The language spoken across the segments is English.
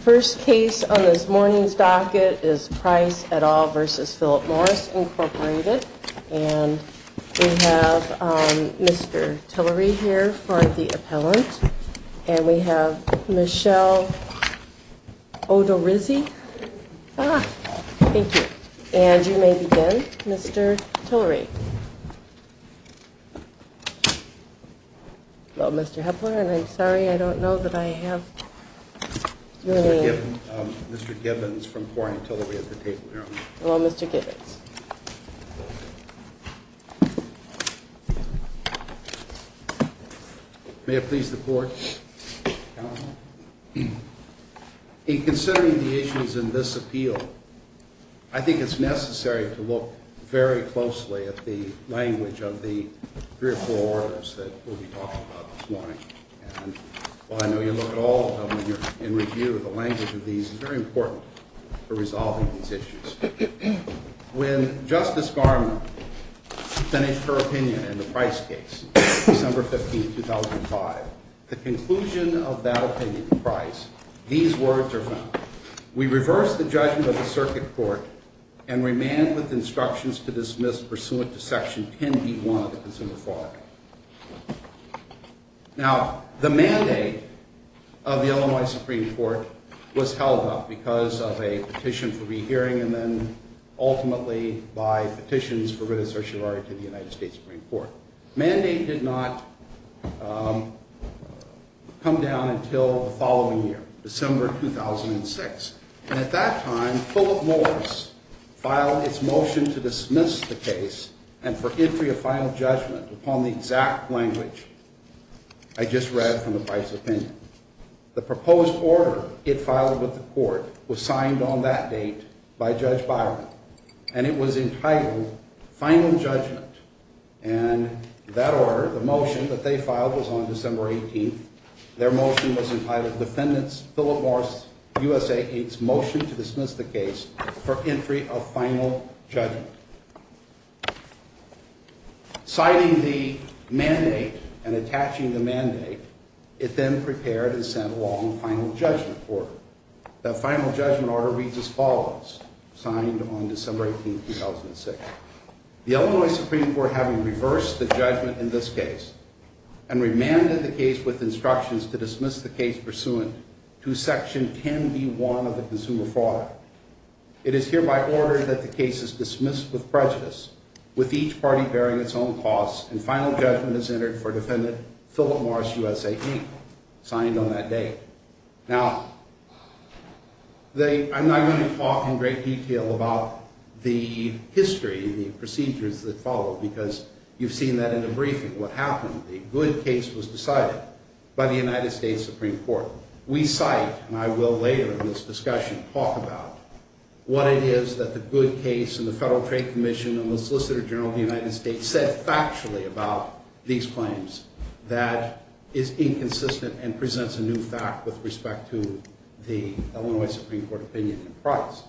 First case on this morning's docket is Price et al. v. Philip Morris Incorporated And we have Mr. Tillery here for the appellant And we have Michelle Odorizzi Thank you And you may begin, Mr. Tillery Hello, Mr. Hepler, and I'm sorry, I don't know that I have Mr. Gibbons, Mr. Gibbons from Quarantillery at the table here Hello, Mr. Gibbons May it please the Court, Counsel In considering the issues in this appeal, I think it's necessary to look very closely at the Language of the three or four orders that we'll be talking about this morning And while I know you'll look at all of them when you're in review, the language of these is very important For resolving these issues When Justice Garment finished her opinion in the Price case, December 15, 2005 The conclusion of that opinion in Price, these words are found We reversed the judgment of the Circuit Court and remanded with instructions to dismiss pursuant to Section 10b-1 of the Consumer Fraud Act Now, the mandate of the Illinois Supreme Court was held up because of a petition for rehearing And then ultimately by petitions for written certiorari to the United States Supreme Court Mandate did not come down until the following year, December 2006 And at that time, Fuller Morris filed its motion to dismiss the case And for entry of final judgment upon the exact language I just read from the Price opinion The proposed order it filed with the Court was signed on that date by Judge Byron And it was entitled Final Judgment And that order, the motion that they filed was on December 18 Their motion was entitled Defendant Philip Morris, USAID's Motion to Dismiss the Case for Entry of Final Judgment Citing the mandate and attaching the mandate, it then prepared and sent along final judgment order The final judgment order reads as follows, signed on December 18, 2006 The Illinois Supreme Court having reversed the judgment in this case And remanded the case with instructions to dismiss the case pursuant to Section 10b-1 of the Consumer Fraud Act It is hereby ordered that the case is dismissed with prejudice, with each party bearing its own costs And final judgment is entered for Defendant Philip Morris, USAID, signed on that date Now, I'm not going to talk in great detail about the history and the procedures that followed Because you've seen that in the briefing, what happened The good case was decided by the United States Supreme Court We cite, and I will later in this discussion talk about What it is that the good case and the Federal Trade Commission and the Solicitor General of the United States Said factually about these claims that is inconsistent and presents a new fact with respect to the Illinois Supreme Court opinion and price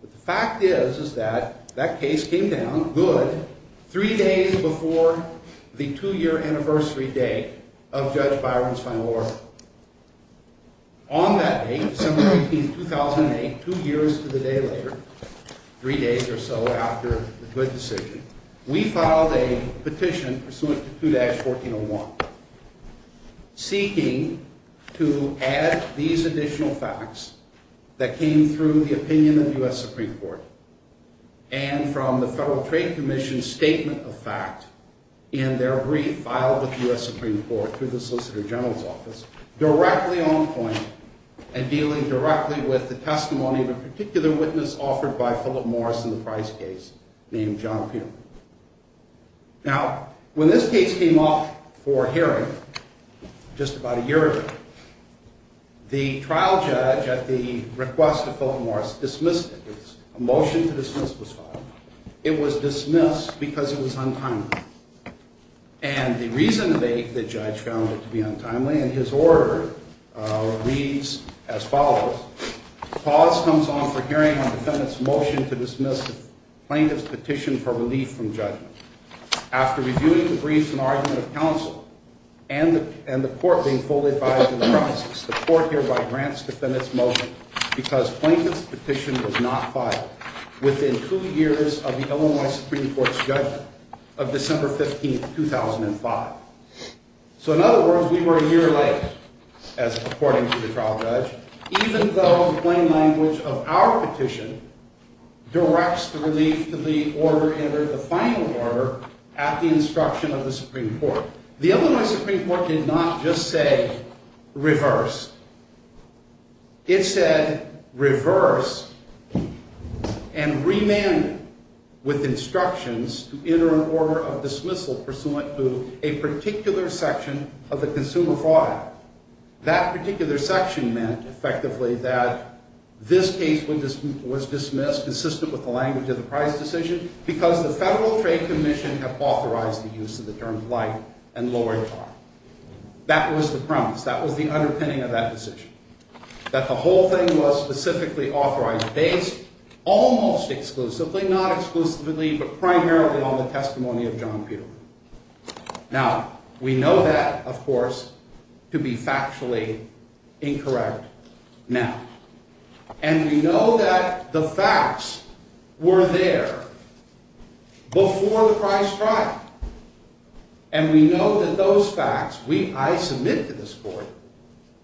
But the fact is, is that that case came down, good, three days before the two-year anniversary date of Judge Byron's final order On that date, December 18, 2008, two years to the day later, three days or so after the good decision We filed a petition pursuant to 2-1401 Seeking to add these additional facts that came through the opinion of the U.S. Supreme Court And from the Federal Trade Commission's statement of fact In their brief filed with the U.S. Supreme Court through the Solicitor General's office Directly on point and dealing directly with the testimony of a particular witness Offered by Philip Morris in the Price case, named John Pugh Now, when this case came up for hearing, just about a year ago The trial judge, at the request of Philip Morris, dismissed it A motion to dismiss was filed It was dismissed because it was untimely And the reason they, the judge, found it to be untimely And his order reads as follows Pause comes on for hearing on defendant's motion to dismiss plaintiff's petition for relief from judgment After reviewing the brief and argument of counsel And the court being fully advised of the crisis The court hereby grants defendant's motion Because plaintiff's petition was not filed Within two years of the Illinois Supreme Court's judgment Of December 15, 2005 So in other words, we were a year late As according to the trial judge Even though the plain language of our petition Directs the relief to the order, the final order At the instruction of the Supreme Court The Illinois Supreme Court did not just say reverse It said reverse And remand with instructions To enter an order of dismissal Pursuant to a particular section of the consumer file That particular section meant, effectively, that This case was dismissed Consistent with the language of the price decision Because the Federal Trade Commission Have authorized the use of the term plight and lower charge That was the premise That was the underpinning of that decision That the whole thing was specifically authorized Based almost exclusively, not exclusively But primarily on the testimony of John Peterman Now, we know that, of course To be factually incorrect now And we know that the facts were there Before the price trial And we know that those facts I submit to this court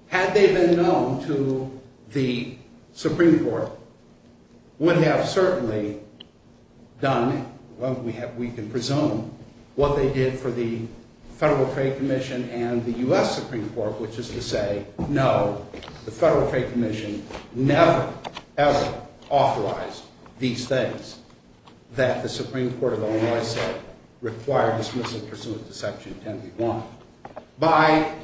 Had they been known to the Supreme Court Would have certainly done Well, we can presume What they did for the Federal Trade Commission And the U.S. Supreme Court Which is to say, no The Federal Trade Commission Never, ever authorized these things That the Supreme Court of Illinois said Require dismissal pursuant to Section 10B.1 By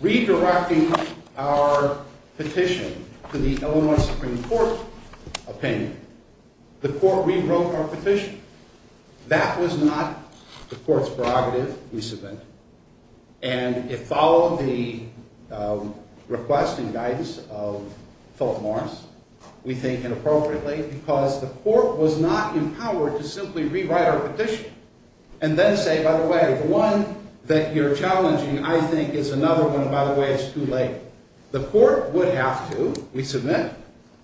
redirecting our petition To the Illinois Supreme Court opinion The court rewrote our petition That was not the court's prerogative, we submit And it followed the request and guidance Of Philip Morris, we think, inappropriately Because the court was not empowered To simply rewrite our petition And then say, by the way The one that you're challenging, I think Is another one, and by the way, it's too late The court would have to, we submit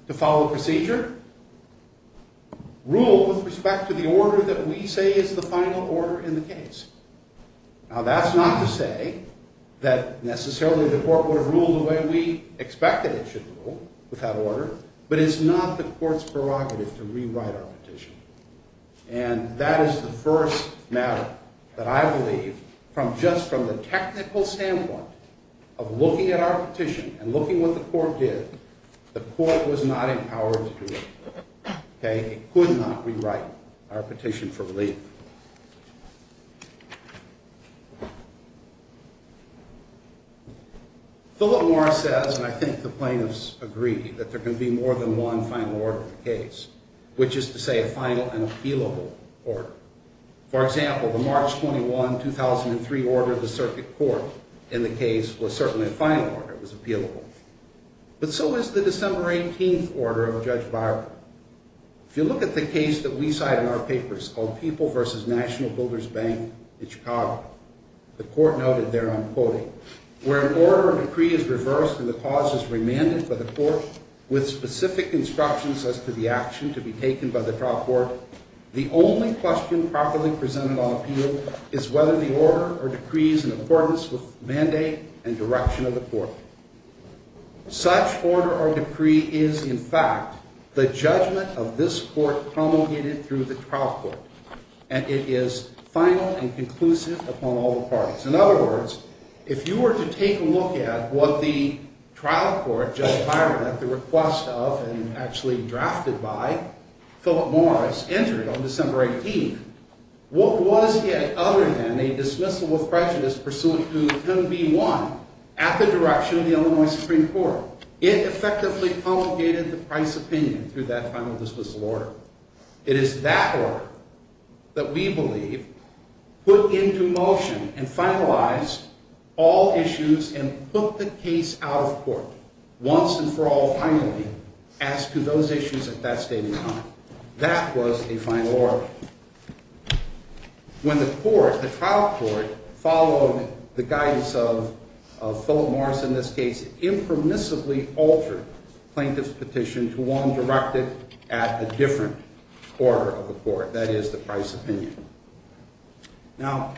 To follow procedure Rule with respect to the order that we say Is the final order in the case Now, that's not to say That necessarily the court would have ruled The way we expect that it should rule With that order But it's not the court's prerogative To rewrite our petition And that is the first matter That I believe, from just From the technical standpoint Of looking at our petition And looking at what the court did The court was not empowered to do it It could not rewrite our petition for relief Philip Morris says, and I think the plaintiffs agree That there can be more than one Final order in the case Which is to say, a final and appealable order For example, the March 21, 2003 order Of the circuit court in the case Was certainly a final order, it was appealable But so was the December 18 order of Judge Barber If you look at the case that we cite in our papers Called People vs. National Builders Bank in Chicago The court noted there, I'm quoting Where an order of decree is reversed And the cause is remanded for the court With specific instructions as to the action To be taken by the trial court The only question properly presented on appeal Is whether the order or decree Is in accordance with the mandate And direction of the court Such order or decree is, in fact The judgment of this court Promulgated through the trial court And it is final and conclusive Upon all the parties In other words, if you were to take a look at What the trial court, Judge Barber At the request of and actually drafted by Philip Morris entered on December 18 What was it other than a dismissal of prejudice Pursuant to 10b-1 At the direction of the Illinois Supreme Court It effectively promulgated the price opinion Through that final dismissal order It is that order that we believe Put into motion and finalized All issues and put the case out of court Once and for all finally As to those issues at that stage in time That was a final order When the court, the trial court Followed the guidance of Philip Morris in this case It impermissibly altered plaintiff's petition To one directed at a different Order of the court That is the price opinion Now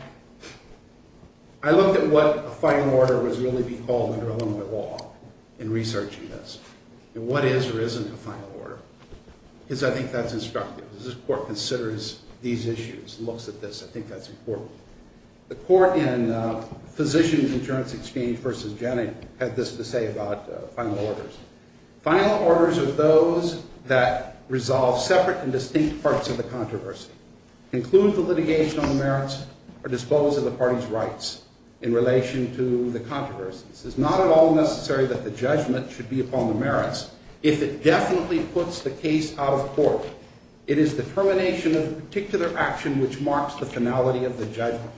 I looked at what a final order Was really being called under Illinois law In researching this And what is or isn't a final order Because I think that's instructive This court considers these issues Looks at this, I think that's important The court in Physicians Insurance Exchange Versus Jenning had this to say about Final orders Final orders are those that Resolve separate and distinct parts Of the controversy Include the litigation on the merits Or dispose of the party's rights In relation to the controversies It's not at all necessary that the judgment Should be upon the merits If it definitely puts the case out of court It is the termination of the particular action Which marks the finality of the judgment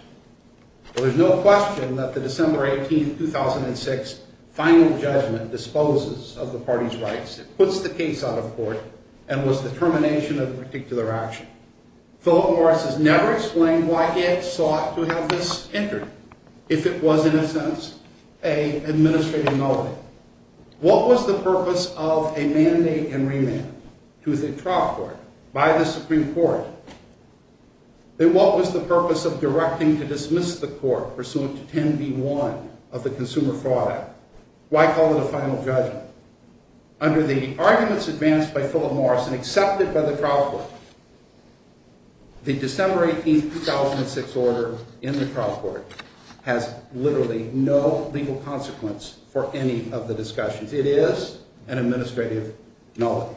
There is no question that the December 18, 2006 Final judgment disposes of the party's rights It puts the case out of court And was the termination of the particular action Philip Morris has never explained Why it sought to have this entered If it was in a sense An administrative melody What was the purpose of a mandate and remand To the trial court By the Supreme Court And what was the purpose of directing To dismiss the court Pursuant to 10B1 of the Consumer Fraud Act Why call it a final judgment Under the arguments advanced by Philip Morris And accepted by the trial court The December 18, 2006 order in the trial court Has literally no legal consequence For any of the discussions It is an administrative melody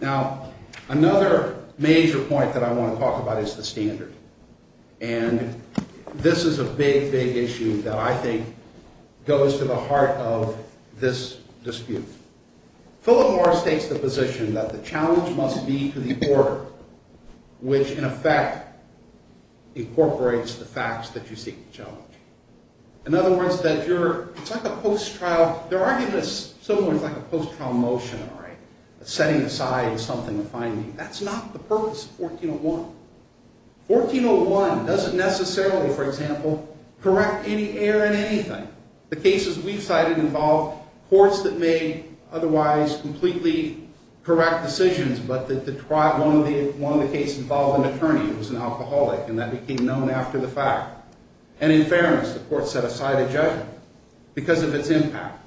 Now, another major point that I want to talk about Is the standard And this is a big, big issue That I think goes to the heart of this dispute Philip Morris takes the position That the challenge must be to the order Which in effect Incorporates the facts that you seek to challenge In other words, that you're It's like a post-trial There are arguments Somewhat like a post-trial motion, all right Setting aside something to find That's not the purpose of 1401 1401 doesn't necessarily, for example Correct any error in anything The cases we've cited involve Courts that made otherwise Completely correct decisions But that the trial One of the cases involved an attorney It was an alcoholic And that became known after the fact And in fairness, the court set aside a judgment Because of its impact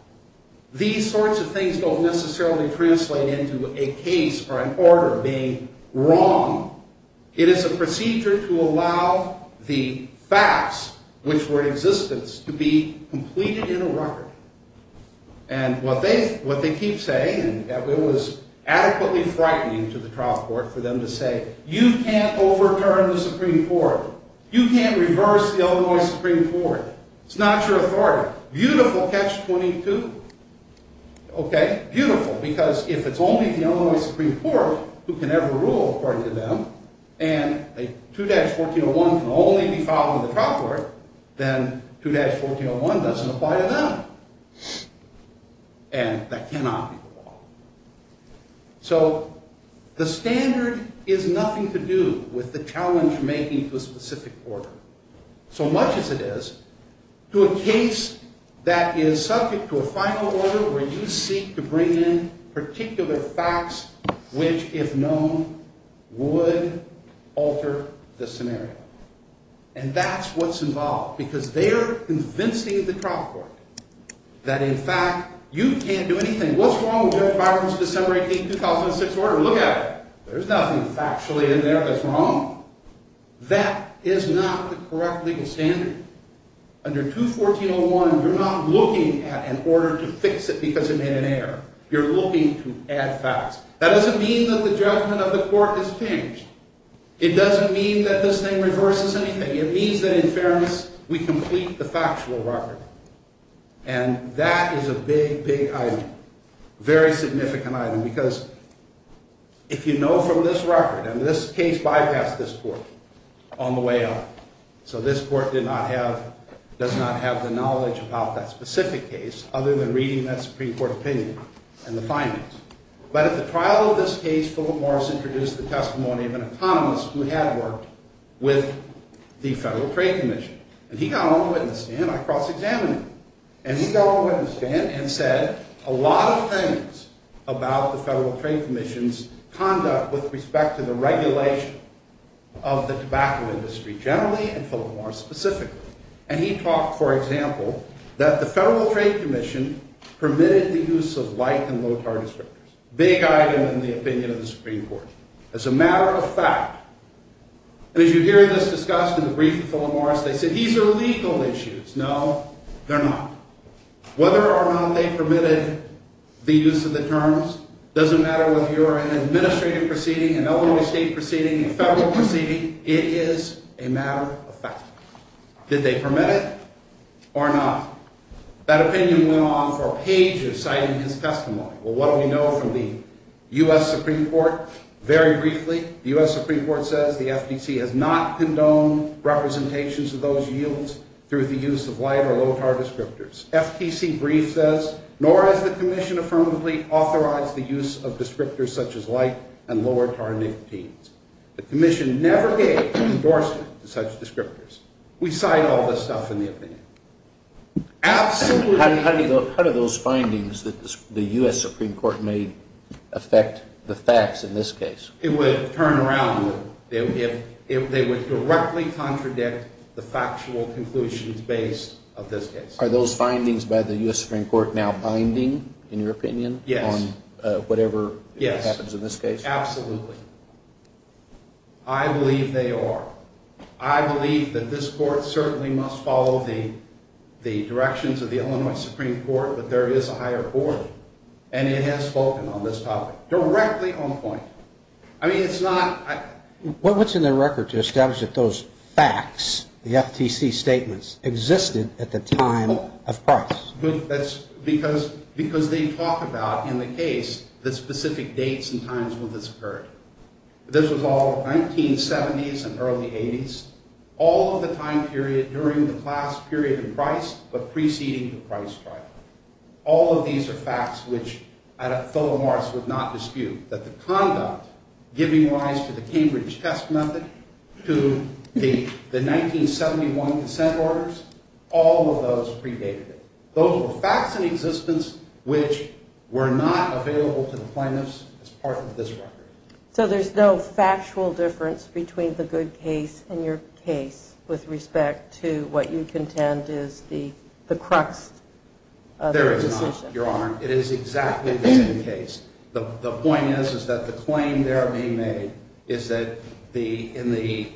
These sorts of things Don't necessarily translate into A case or an order being wrong It is a procedure to allow The facts which were in existence To be completed in a record And what they keep saying And it was adequately frightening To the trial court for them to say You can't overturn the Supreme Court You can't reverse the Illinois Supreme Court It's not your authority Beautiful catch 22 Okay, beautiful Because if it's only the Illinois Supreme Court Who can ever rule according to them And a 2-1401 can only be followed In the trial court Then 2-1401 doesn't apply to them And that cannot be the law So the standard is nothing to do With the challenge making to a specific order So much as it is To a case that is subject to a final order Where you seek to bring in Particular facts Which if known Would alter the scenario And that's what's involved Because they're convincing the trial court That in fact you can't do anything What's wrong with Judge Byron's December 18, 2006 order? Look at it There's nothing factually in there that's wrong That is not the correct legal standard Under 2-1401 You're not looking at an order to fix it Because it made an error You're looking to add facts That doesn't mean that the judgment of the court is changed It doesn't mean that this thing reverses anything It means that in fairness We complete the factual record And that is a big, big item Very significant item Because if you know from this record And this case bypassed this court On the way up So this court did not have Does not have the knowledge about that specific case Other than reading that Supreme Court opinion And the findings But at the trial of this case Philip Morris introduced the testimony of an economist Who had worked with the Federal Trade Commission And he got on the witness stand I cross-examined him And he got on the witness stand And said a lot of things About the Federal Trade Commission's conduct With respect to the regulation Of the tobacco industry Generally, and Philip Morris specifically And he talked, for example That the Federal Trade Commission Permitted the use of light and low-target strippers Big item in the opinion of the Supreme Court As a matter of fact And as you hear this discussed In the brief of Philip Morris They said, these are legal issues No, they're not Whether or not they permitted The use of the terms Doesn't matter whether you're An administrative proceeding An Illinois state proceeding A federal proceeding It is a matter of fact Did they permit it? Or not? That opinion went on for pages Citing his testimony Well, what do we know From the U.S. Supreme Court? Very briefly The U.S. Supreme Court says The FTC has not condoned Representations of those yields Through the use of light Or low-target strippers FTC brief says Nor has the commission Affirmatively authorized The use of descriptors Such as light and low-target strippers The commission never gave Endorsement to such descriptors We cite all this stuff in the opinion Absolutely How do you go How do those findings That the U.S. Supreme Court made Affect the facts in this case? It would turn around They would directly contradict The factual conclusions Based of this case Are those findings By the U.S. Supreme Court Now binding in your opinion? Yes On whatever happens in this case? Yes, absolutely I believe they are I believe that this court Certainly must follow The directions of the Illinois Supreme Court But there is a higher court And it has spoken on this topic Directly on point I mean it's not What's in the record To establish that those facts The FTC statements Existed at the time of price? That's because Because they talk about In the case The specific dates and times When this occurred This was all 1970s and early 80s All of the time period During the class period of price But preceding the price trial All of these are facts Which Philip Morris would not dispute That the conduct Giving rise to the Cambridge test method To the 1971 consent orders All of those predated it Those were facts in existence Which were not available To the plaintiffs As part of this record So there's no factual difference Between the good case and your case With respect to what you contend That is the crux of the decision There is not, your honor It is exactly the same case The point is Is that the claim there being made Is that in the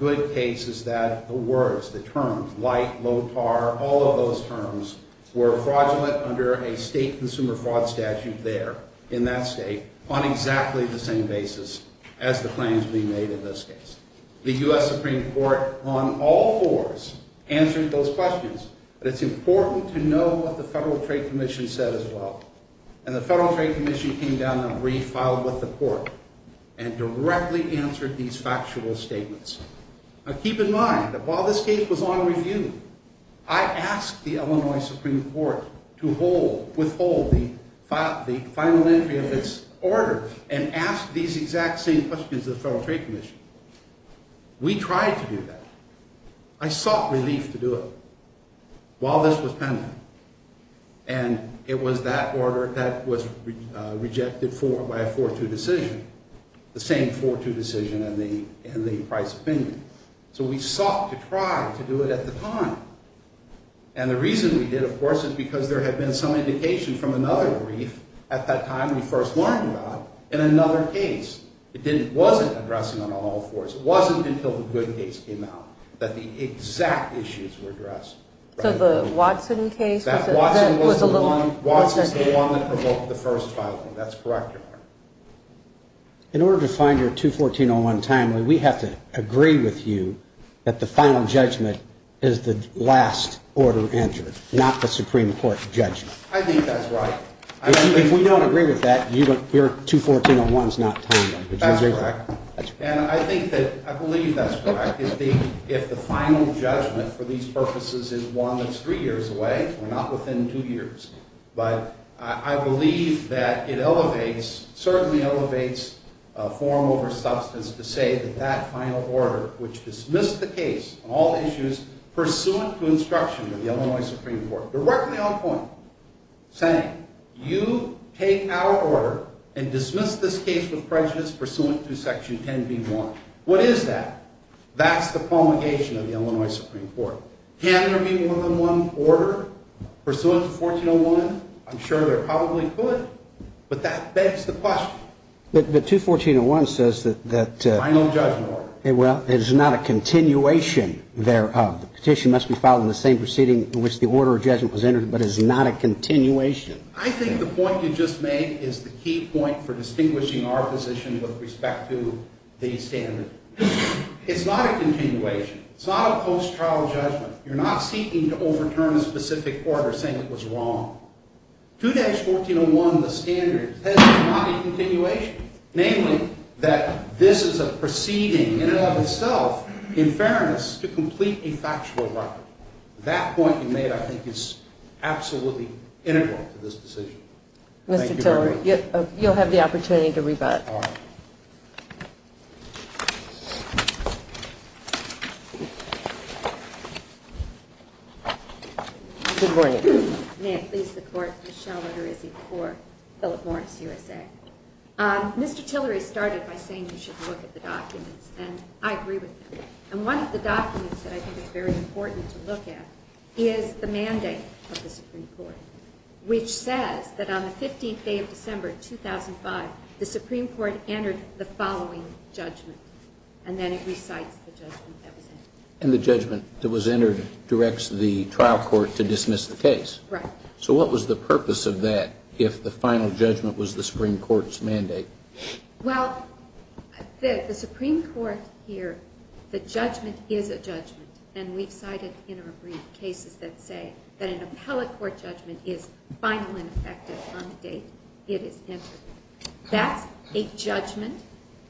good case Is that the words, the terms Light, low tar, all of those terms Were fraudulent under a state Consumer fraud statute there In that state On exactly the same basis As the claims being made in this case The U.S. Supreme Court On all fours Answered those questions But it's important to know What the Federal Trade Commission said as well And the Federal Trade Commission Came down and refiled with the court And directly answered These factual statements Now keep in mind That while this case was on review I asked the Illinois Supreme Court To withhold the final entry of its order And ask these exact same questions To the Federal Trade Commission We tried to do that I sought relief to do it While this was pending And it was that order That was rejected by a 4-2 decision The same 4-2 decision In the Price opinion So we sought to try to do it at the time And the reason we did, of course Is because there had been some indication From another brief At that time we first learned about In another case It wasn't addressing on all fours It wasn't until the good case came out That the exact issues were addressed So the Watson case That Watson was the one That provoked the first filing That's correct, Your Honor In order to find your 214-01 timely We have to agree with you That the final judgment Is the last order entered Not the Supreme Court judgment I think that's right If we don't agree with that Your 214-01 is not timely That's correct And I think that I believe that's correct If the final judgment For these purposes is one That's three years away We're not within two years But I believe that it elevates Certainly elevates Form over substance To say that that final order Which dismissed the case On all issues Pursuant to instruction Of the Illinois Supreme Court Directly on point Saying You take our order And dismiss this case with prejudice Pursuant to Section 10b-1 What is that? That's the promulgation Of the Illinois Supreme Court Can there be more than one order Pursuant to 214-01? I'm sure there probably could But that begs the question But 214-01 says that Final judgment order Well, it is not a continuation Thereof The petition must be filed In the same proceeding In which the order of judgment Was entered But is not a continuation I think the point you just made Is the key point For distinguishing our position With respect to the standard It's not a continuation It's not a post-trial judgment You're not seeking to overturn A specific order Saying it was wrong 214-01, the standard Says it's not a continuation Namely That this is a proceeding In and of itself In fairness To complete a factual record That point you made I think is absolutely integral To this decision Thank you very much Mr. Tiller You'll have the opportunity To rebut Thank you Good morning May it please the Court Michelle Roderizzi For Philip Morris USA Mr. Tillery started by saying You should look at the documents And I agree with him And one of the documents That I think is very important To look at Is the mandate Of the Supreme Court Which says That on the 15th day of December 2005 The Supreme Court Entered the following judgment And then it recites The judgment that was entered And the judgment That was entered Directs the trial court To dismiss the case Right So what was the purpose of that If the final judgment Was the Supreme Court's mandate Well The Supreme Court Here The judgment is a judgment And we've cited In our brief cases That say That an appellate court judgment Is final and effective On the date It is entered That's a judgment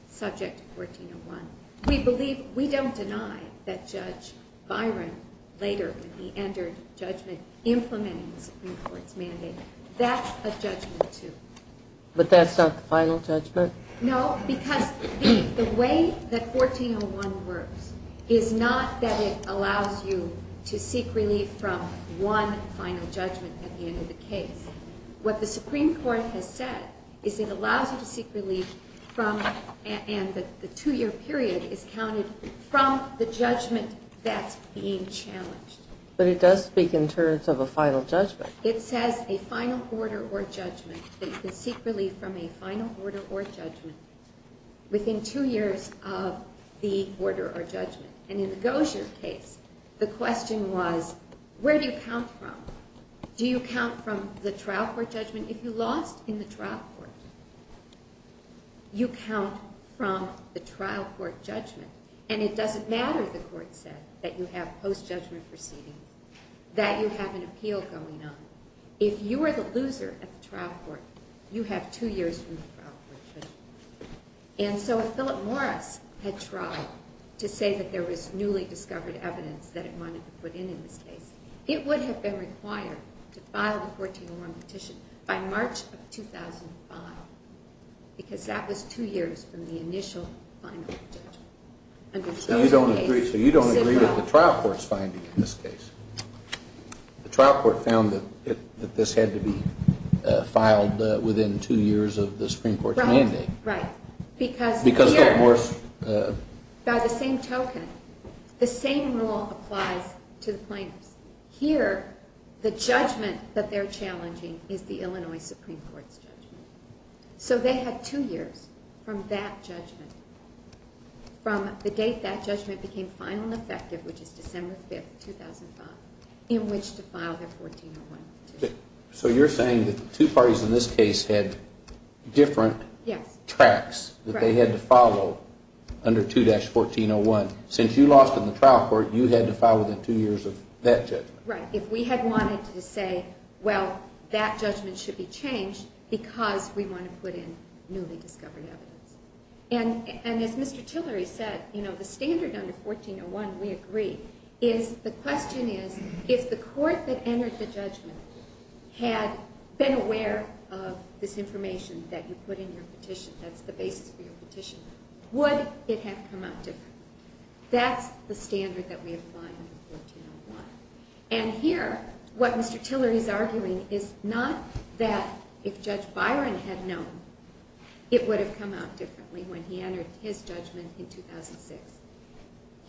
Subject to 1401 We believe We don't deny That Judge Byron Later when he entered judgment Implementing the Supreme Court's mandate That's a judgment too But that's not the final judgment? No Because The way that 1401 works Is not that it allows you To seek relief from One final judgment At the end of the case What the Supreme Court has said Is it allows you to seek relief From And the two year period Is counted from the judgment That's being challenged But it does speak in terms of a final judgment It says a final order or judgment That you can seek relief from A final order or judgment Within two years Of the order or judgment And in the Gosier case The question was Where do you count from? Do you count from The trial court judgment If you lost in the trial court? You count from The trial court judgment And it doesn't matter The court said That you have post judgment proceedings That you have an appeal going on If you were the loser At the trial court You have two years From the trial court judgment And so if Philip Morris Had tried To say that there was Newly discovered evidence That it wanted to put in In this case It would have been required To file the 1401 petition By March of 2005 Because that was two years From the initial final judgment And in this case So you don't agree With the trial court's finding In this case The trial court found That this had to be Filed within two years Of the Supreme Court's mandate Right, right Because here Because Philip Morris By the same token The same rule applies To the plaintiffs Here The judgment That they're challenging Is the Illinois Supreme Court's judgment So they had two years From that judgment From the date that judgment Became final and effective Which is December 5, 2005 In which to file their 1401 petition So you're saying That the two parties In this case Had different Yes Tracks That they had to follow Under 2-1401 Since you lost in the trial court You had to file within two years Of that judgment Right If we had wanted to say Well, that judgment Should be changed Because we want to put in Newly discovered evidence And as Mr. Tillery said You know, the standard Under 1401 We agree Is The question is If the court That entered the judgment Had been aware Of this information That you put in your petition That's the basis For your petition Would it have come out different? That's the standard That we apply Under 1401 And here What Mr. Tillery is arguing Is not that If Judge Byron had known It would have come out differently When he entered his judgment In 2006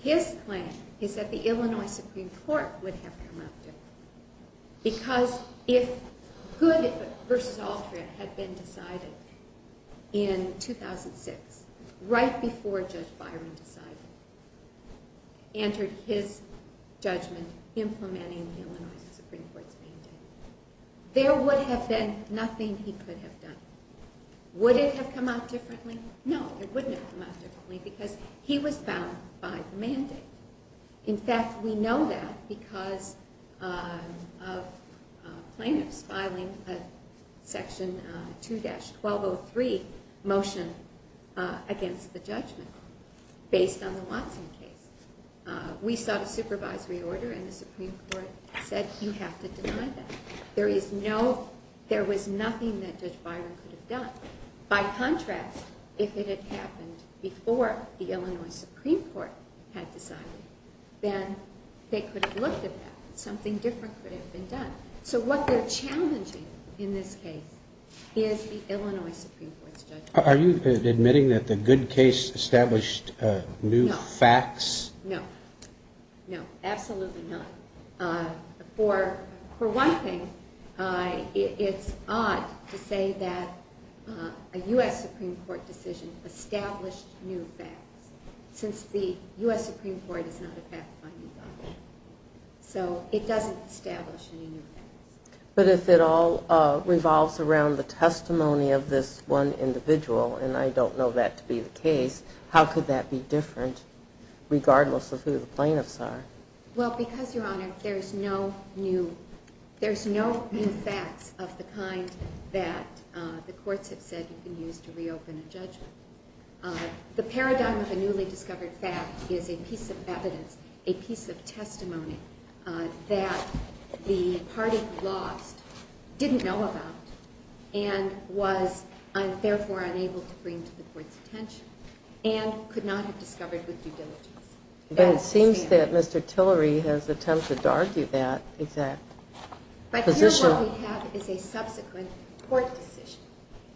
His claim Is that the Illinois Supreme Court Would have come out different Because if Hood v. Altred Had been decided In 2006 Right before Judge Byron decided Entered his judgment Implementing the Illinois Supreme Court's mandate There would have been Nothing he could have done Would it have come out differently? No, it wouldn't have come out differently Because he was bound by the mandate In fact, we know that Because of Plaintiffs filing Section 2-1203 Motion Against the judgment Based on the Watson case We sought a supervisory order And the Supreme Court said You have to deny that There was nothing That Judge Byron could have done By contrast If it had happened Before the Illinois Supreme Court Had decided Then they could have looked at that Something different could have been done So what they're challenging In this case Is the Illinois Supreme Court's judgment Are you admitting that the Good Case Established new facts? No No, absolutely not For one thing It's odd To say that A U.S. Supreme Court decision Established new facts Since the U.S. Supreme Court Is not a path finding body So it doesn't establish Any new facts But if it all Revolves around the testimony Of this one individual And I don't know that to be the case How could that be different Regardless of who the plaintiffs are? Well, because, Your Honor There's no new There's no new facts Of the kind that the courts have said You can use to reopen a judgment The paradigm of a newly discovered fact Is a piece of evidence A piece of testimony That the party who lost Didn't know about And was Therefore unable to bring To the court's attention And could not have discovered with due diligence But it seems that Mr. Tillery Has attempted to argue that But here what we have Is a subsequent court decision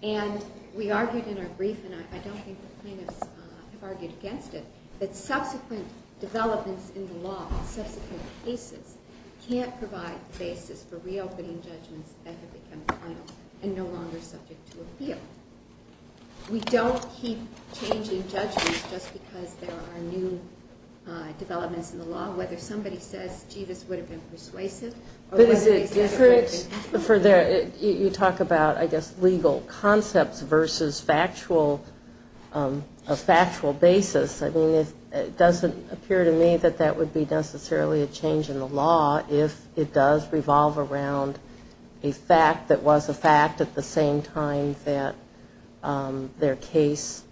And we argued In our brief And I don't think the plaintiffs have argued against it That subsequent developments In the law, subsequent cases Can't provide the basis For reopening judgments That have become final And no longer subject to appeal We don't keep changing judgments Just because there are new Developments in the law Whether somebody says Gee, this would have been persuasive But is it different You talk about, I guess, legal concepts Versus factual A factual basis I mean, it doesn't appear to me That that would be necessarily A change in the law If it does revolve around A fact that was a fact At the same time that Their case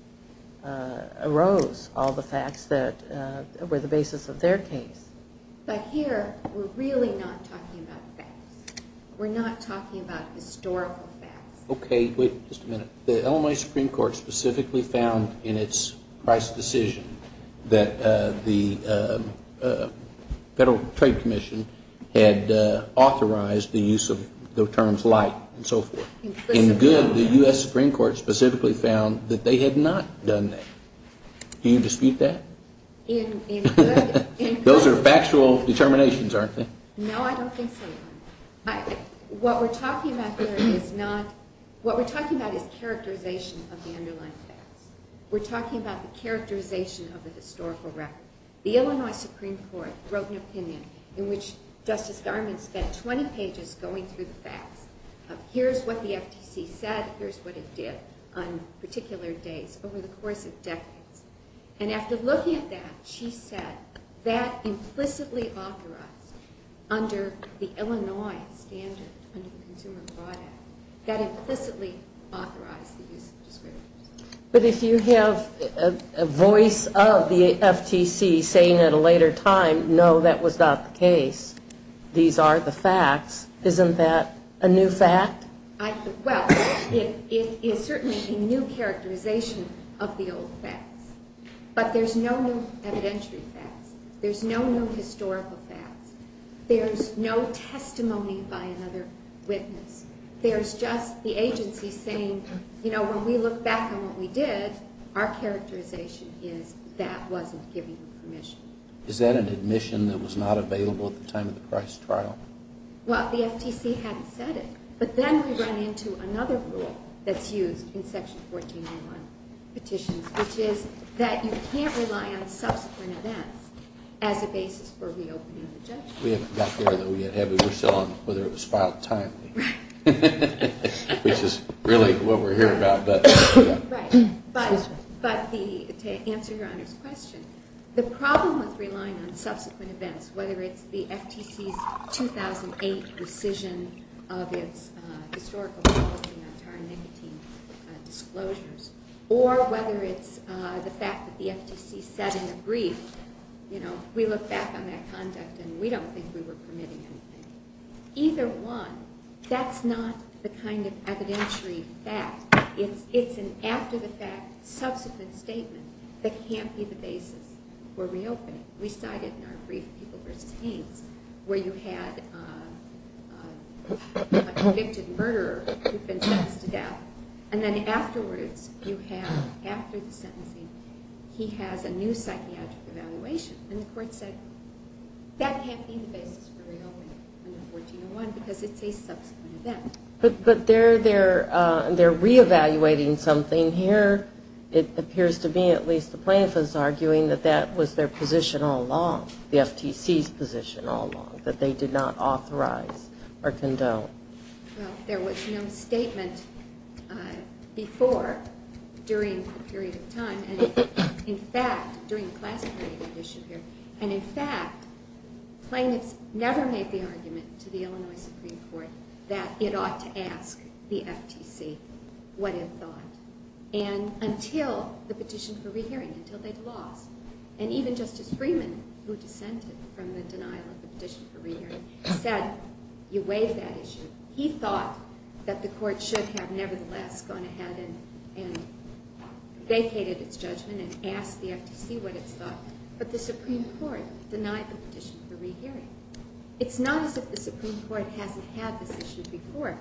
Arose All the facts that were the basis Of their case But here, we're really not talking about facts We're not talking about Historical facts Okay, wait just a minute The Illinois Supreme Court specifically found In its price decision That the Federal Trade Commission Had authorized The use of the terms light And so forth In good, the U.S. Supreme Court specifically found That they had not done that Do you dispute that? Those are factual Determinations, aren't they? No, I don't think so What we're talking about here is not What we're talking about is characterization Of the underlying facts We're talking about the characterization Of the historical record The Illinois Supreme Court wrote an opinion In which Justice Garment spent 20 pages going through the facts Of here's what the FTC said Here's what it did On particular days over the course of decades And after looking at that She said that Implicitly authorized Under the Illinois standard Under the Consumer Fraud Act That implicitly authorized The use of descriptors But if you have A voice of the FTC Saying at a later time No, that was not the case These are the facts Isn't that a new fact? Well, it is Certainly a new characterization Of the old facts But there's no new evidentiary facts There's no new historical facts There's no testimony By another witness There's just the agency Saying, you know, when we look back On what we did, our characterization Is that wasn't given Permission. Is that an admission That was not available at the time of the Christ Trial? Well, the FTC Hadn't said it, but then we run into Another rule that's used In Section 1401 Petitions, which is that you can't Rely on subsequent events As a basis for reopening the judgment We haven't got there, though, yet We're still on whether it was filed timely Right Which is really what we're here about Right, but To answer Your Honor's question The problem with relying on Subsequent events, whether it's the FTC's 2008 Decision of its Historical policy on Tar 19 disclosures Or whether it's the fact That the FTC said in a brief You know, we look back on that conduct And we don't think we were permitting anything Either one That's not the kind of evidentiary Fact. It's an After-the-fact subsequent statement That can't be the basis For reopening. We cite it in our Brief People v. Haynes Where you had A convicted murderer Who'd been sentenced to death And then afterwards you have After the sentencing He has a new psychiatric evaluation And the court said That can't be the basis For reopening under 1401 Because it's a subsequent event But they're Re-evaluating something here It appears to me, at least the plaintiff Is arguing that that was their position All along, the FTC's position All along, that they did not authorize Or condone Well, there was no statement Before During a period of time And in fact, during The class period And in fact, plaintiffs Never made the argument to the Illinois Supreme Court That it ought to ask The FTC What it thought And until the petition for re-hearing Until they'd lost And even Justice Freeman, who dissented From the denial of the petition for re-hearing Said, you waived that issue He thought that the court Should have nevertheless gone ahead And vacated its judgment And asked the FTC what it thought But the Supreme Court Denied the petition for re-hearing It's not as if the Supreme Court Hasn't had this issue before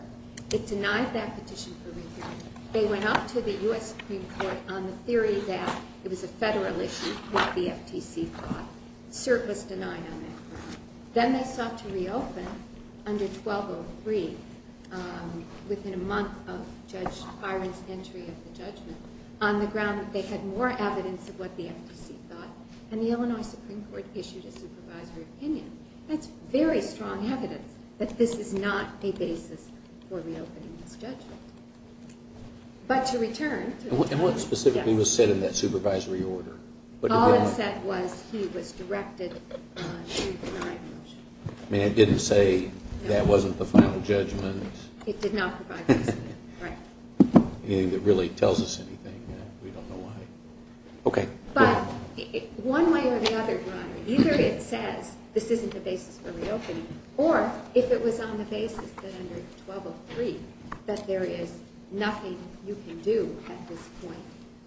It denied that petition for re-hearing They went up to the U.S. Supreme Court On the theory that it was a federal issue What the FTC thought Cert was denied on that ground Then they sought to reopen Under 1203 Within a month of Judge Byron's entry of the judgment On the ground that they had more evidence Of what the FTC thought And the Illinois Supreme Court issued a supervisory opinion That's very strong evidence That this is not a basis For reopening this judgment But to return And what specifically was said In that supervisory order? All it said was he was directed To deny the motion I mean, it didn't say That wasn't the final judgment It did not provide this opinion Anything that really tells us anything We don't know why Okay But one way or the other, Your Honor Either it says this isn't the basis for reopening Or if it was on the basis That under 1203 That there is nothing You can do at this point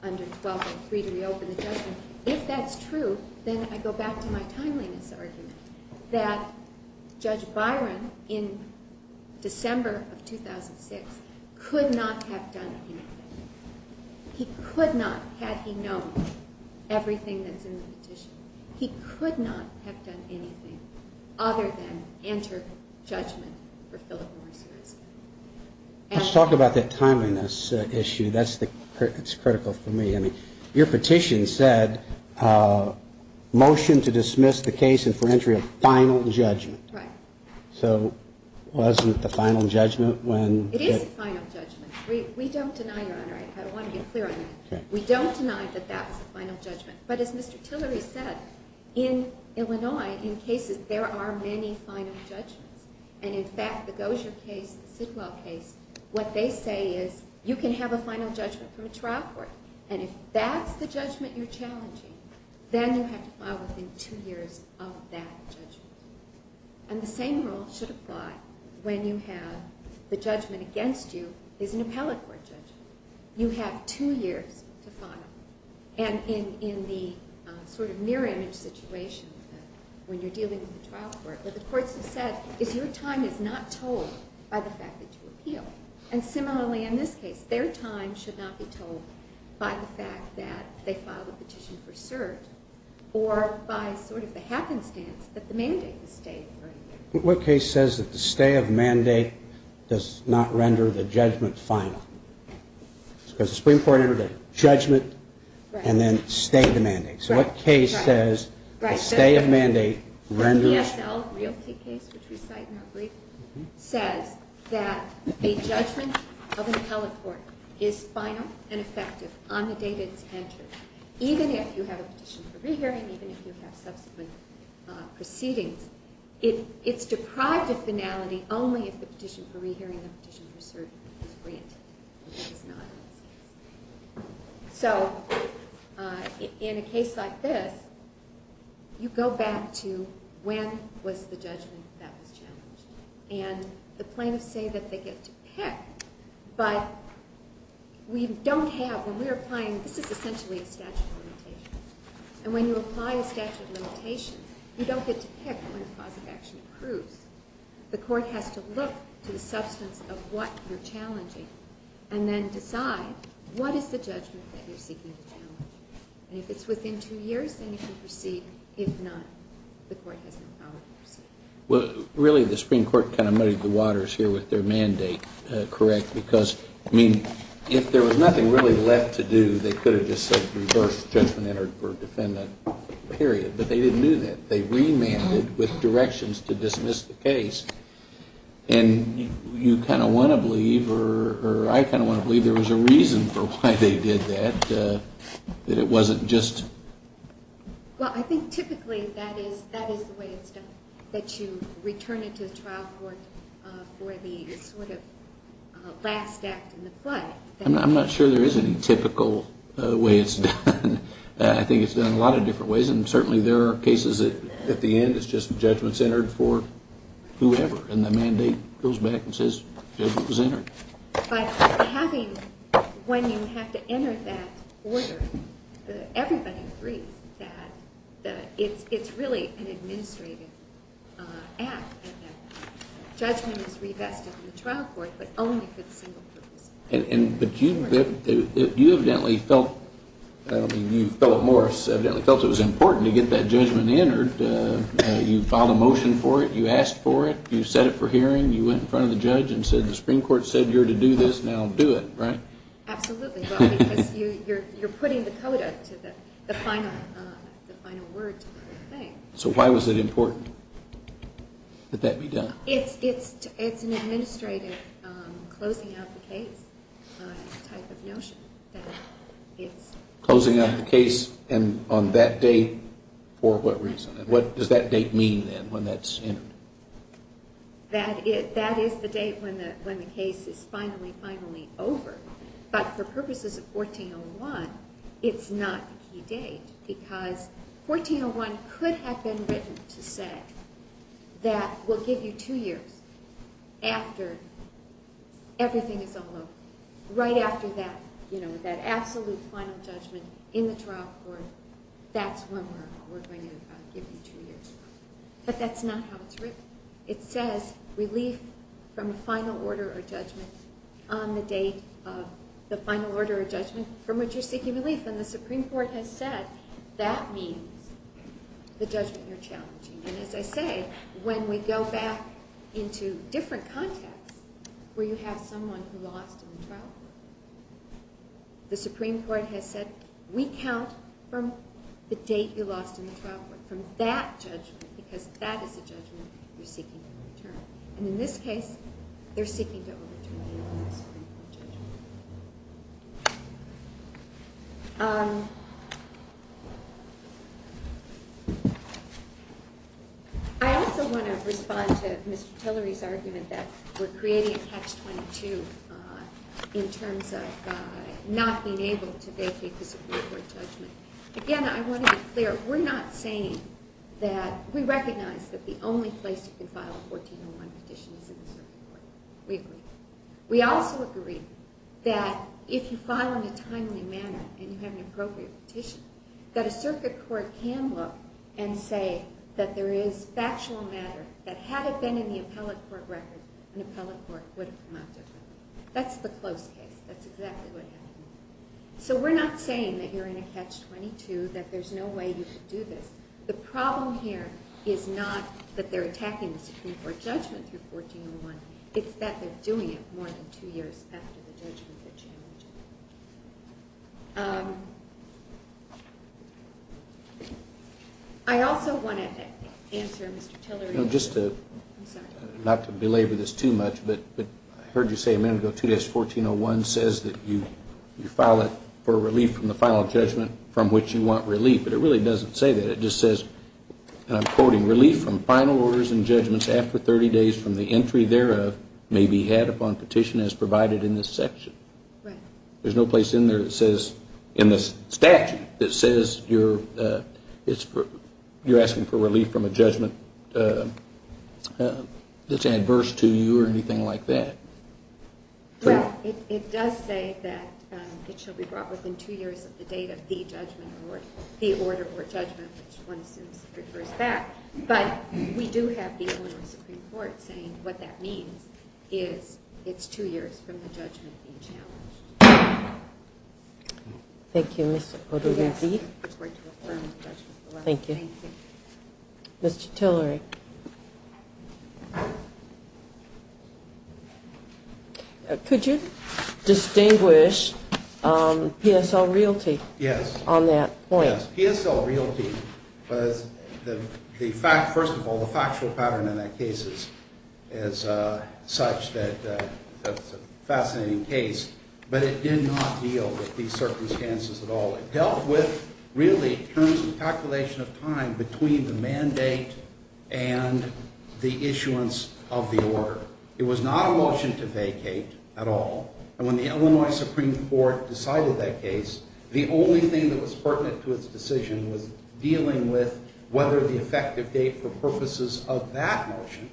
Under 1203 to reopen the judgment If that's true Then I go back to my timeliness argument That Judge Byron In December Of 2006 Could not have done anything He could not Had he known everything That's in the petition He could not have done anything Other than enter judgment For Phillip Morris Let's talk about that timeliness Issue That's critical for me Your petition said Motion to dismiss the case And for entry of final judgment Right So wasn't the final judgment when It is the final judgment We don't deny, Your Honor We don't deny that that's the final judgment But as Mr. Tillery said In Illinois In cases, there are many final judgments And in fact, the Gosier case The Sidwell case What they say is You can have a final judgment from a trial court And if that's the judgment you're challenging Then you have to file within two years Of that judgment And the same rule should apply When you have the judgment Against you is an appellate court judgment You have two years To file And in the sort of mirror image Situation When you're dealing with a trial court What the courts have said is your time is not told By the fact that you appeal And similarly in this case Their time should not be told By the fact that they filed a petition for cert Or by sort of the happenstance That the mandate was stayed What case says that the stay of mandate Does not render the judgment final? Because the Supreme Court entered a judgment And then stayed the mandate So what case says The stay of mandate renders The ESL realty case Which we cite in our brief Says that a judgment of an appellate court Is final and effective On the date it's entered Even if you have a petition for rehearing Even if you have subsequent Proceedings It's deprived of finality Only if the petition for rehearing And the petition for cert is granted So In a case like this You go back to When was the judgment that was challenged And the plaintiffs say That they get to pick But we don't have When we're applying This is essentially a statute of limitations And when you apply a statute of limitations You don't get to pick When the cause of action approves The court has to look to the substance Of what you're challenging And then decide What is the judgment that you're seeking to challenge And if it's within two years Then you can proceed If not, the court has no power to proceed Really the Supreme Court kind of muddied the waters Here with their mandate Correct because If there was nothing really left to do They could have just said Reverse judgment entered for defendant But they didn't do that They remanded with directions to dismiss the case And You kind of want to believe Or I kind of want to believe There was a reason for why they did that That it wasn't just Well I think typically That is the way it's done That you return it to the trial court For the sort of Last act in the play I'm not sure there is any typical Way it's done I think it's done a lot of different ways And certainly there are cases at the end It's just judgment's entered for Whoever and the mandate goes back And says judgment was entered But having When you have to enter that order Everybody agrees That it's really An administrative act And that judgment is Revested in the trial court But only for the single purpose You evidently felt I don't mean you Felt it was important To get that judgment entered You filed a motion for it You asked for it You set it for hearing You went in front of the judge And said the Supreme Court said You're to do this Now do it Absolutely Because you're putting the Coda, the final word To the thing So why was it important That that be done It's an administrative Closing out the case Type of notion Closing out the case And on that date For what reason What does that date mean When that's entered That is the date When the case is finally Finally over But for purposes of 1401 It's not the key date Because 1401 could have Been written to say That we'll give you two years After Everything is over Right after that Absolute final judgment in the trial court That's when we're Going to give you two years But that's not how it's written It says relief From a final order or judgment On the date of The final order or judgment from which you're seeking relief And the Supreme Court has said That means The judgment you're challenging And as I say, when we go back Into different contexts Where you have someone who lost In the trial court The Supreme Court has said We count from the date You lost in the trial court From that judgment Because that is the judgment you're seeking to overturn And in this case They're seeking to overturn The Supreme Court judgment I also want to respond To Mr. Tillery's argument That we're creating a catch-22 In terms of Not being able to vacate The Supreme Court judgment Again, I want to be clear We're not saying that We recognize that the only place you can file a 1401 petition Is in the circuit court We agree We also agree that If you file in a timely manner And you have an appropriate petition That a circuit court can look And say that there is factual matter That had it been in the appellate court record An appellate court would have come out differently That's the close case That's exactly what happened So we're not saying that you're in a catch-22 That there's no way you could do this The problem here Is not that they're attacking the Supreme Court judgment Through 1401 It's that they're doing it more than two years After the judgment had changed I also want to Answer Mr. Tillery's I'm sorry Not to belabor this too much But I heard you say a minute ago 2-1401 says that you File it for relief from the final judgment From which you want relief But it really doesn't say that It just says And I'm quoting Relief from final orders and judgments after 30 days From the entry thereof may be had upon petition As provided in this section There's no place in there that says In the statute That says you're asking for relief From a judgment That's adverse to you Or anything like that Right It does say that It shall be brought within two years of the date of the judgment Or the order or judgment Which one assumes refers back But we do have people in the Supreme Court Saying what that means Is it's two years From the judgment being challenged Thank you Mr. O'Donoghue Thank you Thank you Mr. Tillery Could you Distinguish PSL Realty On that point PSL Realty First of all the factual pattern in that case Is Such that It's a fascinating case But it did not deal with these circumstances At all It dealt with, really, terms of calculation of time Between the mandate And the issuance Of the order It was not a motion to vacate At all And when the Illinois Supreme Court Decided that case The only thing that was pertinent to its decision Was dealing with whether the effective date For purposes of that motion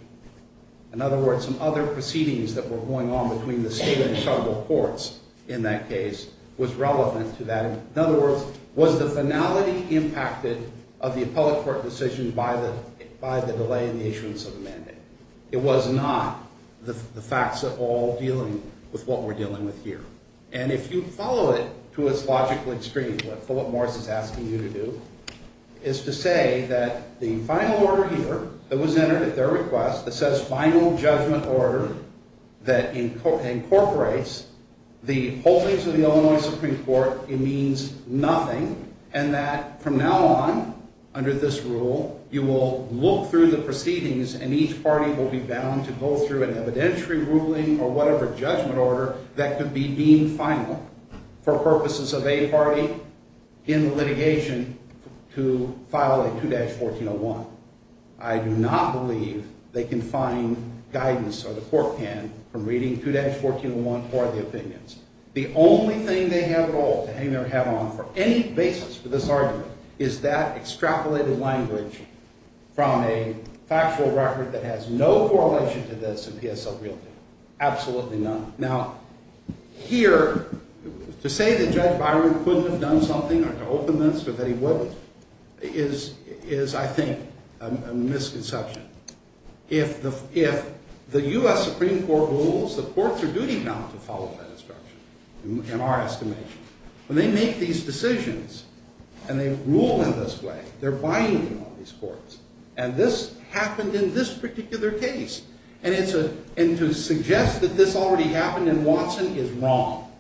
In other words Some other proceedings that were going on Between the state and federal courts In that case was relevant to that In other words Was the finality impacted Of the appellate court decision By the delay in the issuance of the mandate It was not The facts at all dealing With what we're dealing with here And if you follow it to its logical extreme For what Morris is asking you to do Is to say that The final order here That was entered at their request That says final judgment order That incorporates The holdings of the Illinois Supreme Court It means nothing And that from now on Under this rule You will look through the proceedings And each party will be bound to go through An evidentiary ruling or whatever judgment order That could be deemed final For purposes of a party In litigation To file a 2-1401 I do not believe They can find guidance Or the court can from reading 2-1401 Or the opinions The only thing they have at all To hang their hat on for any basis for this argument Is that extrapolated language From a Factual record that has no correlation To this in PSL realty Absolutely none Now here To say that Judge Byron couldn't have done something Or to open this or that he wouldn't Is I think A misconception If the U.S. Supreme Court Rules the courts are duty bound To follow that instruction In our estimation When they make these decisions And they rule in this way They're binding on these courts And this happened in this particular case That this already happened in Watson Is wrong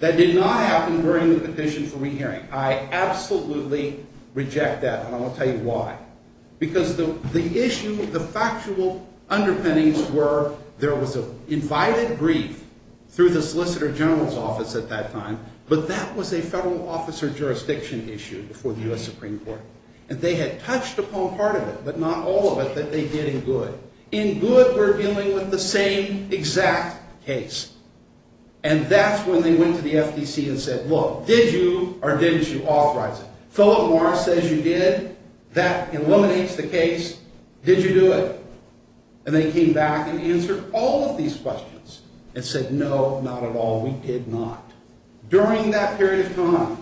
That did not happen during the petition for re-hearing I absolutely Reject that and I'll tell you why Because the issue The factual underpinnings were There was an invited brief Through the solicitor general's office At that time But that was a federal office or jurisdiction issue Before the U.S. Supreme Court And they had touched upon part of it But not all of it that they did in good In good we're dealing with the same Exact case And that's when they went to the FTC And said look did you or didn't you Authorize it Philip Morris says you did That eliminates the case Did you do it And they came back and answered all of these questions And said no not at all We did not During that period of time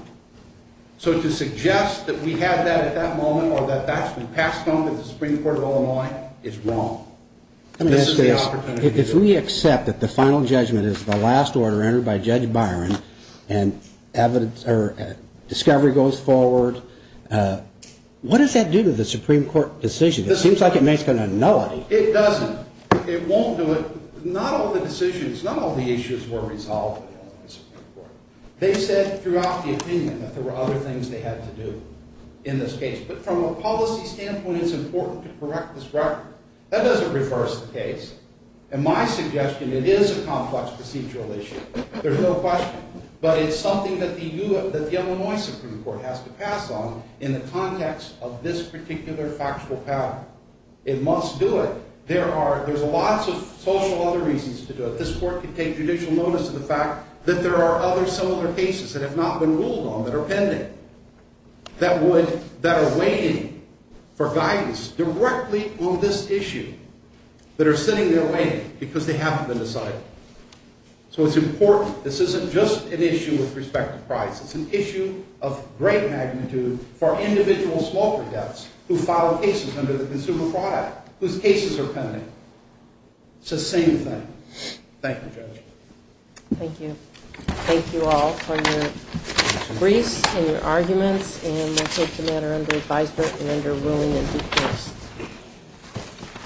So to suggest that we had that At that moment or that that's been passed on To the Supreme Court of Illinois Is wrong If we accept that the final judgment Is the last order entered by Judge Byron And evidence Or discovery goes forward What does that do To the Supreme Court decision It seems like it makes a nullity It doesn't it won't do it Not all the decisions not all the issues Were resolved They said throughout the opinion That there were other things they had to do In this case but from a policy standpoint It's important to correct this record That doesn't reverse the case And my suggestion it is a complex procedural issue There's no question But it's something that the Illinois Supreme Court has to pass on In the context of this particular Factual pattern It must do it There's lots of social other reasons to do it This court could take judicial notice of the fact That there are other similar cases That have not been ruled on that are pending That would That are waiting for guidance Directly on this issue That are sitting there waiting Because they haven't been decided So it's important this isn't just An issue with respect to price It's an issue of great magnitude For individual smoker deaths Who filed cases under the Consumer Fraud Act Whose cases are pending It's the same thing Thank you Judge Thank you Thank you all for your briefs And your arguments And we'll take the matter under advisement Thank you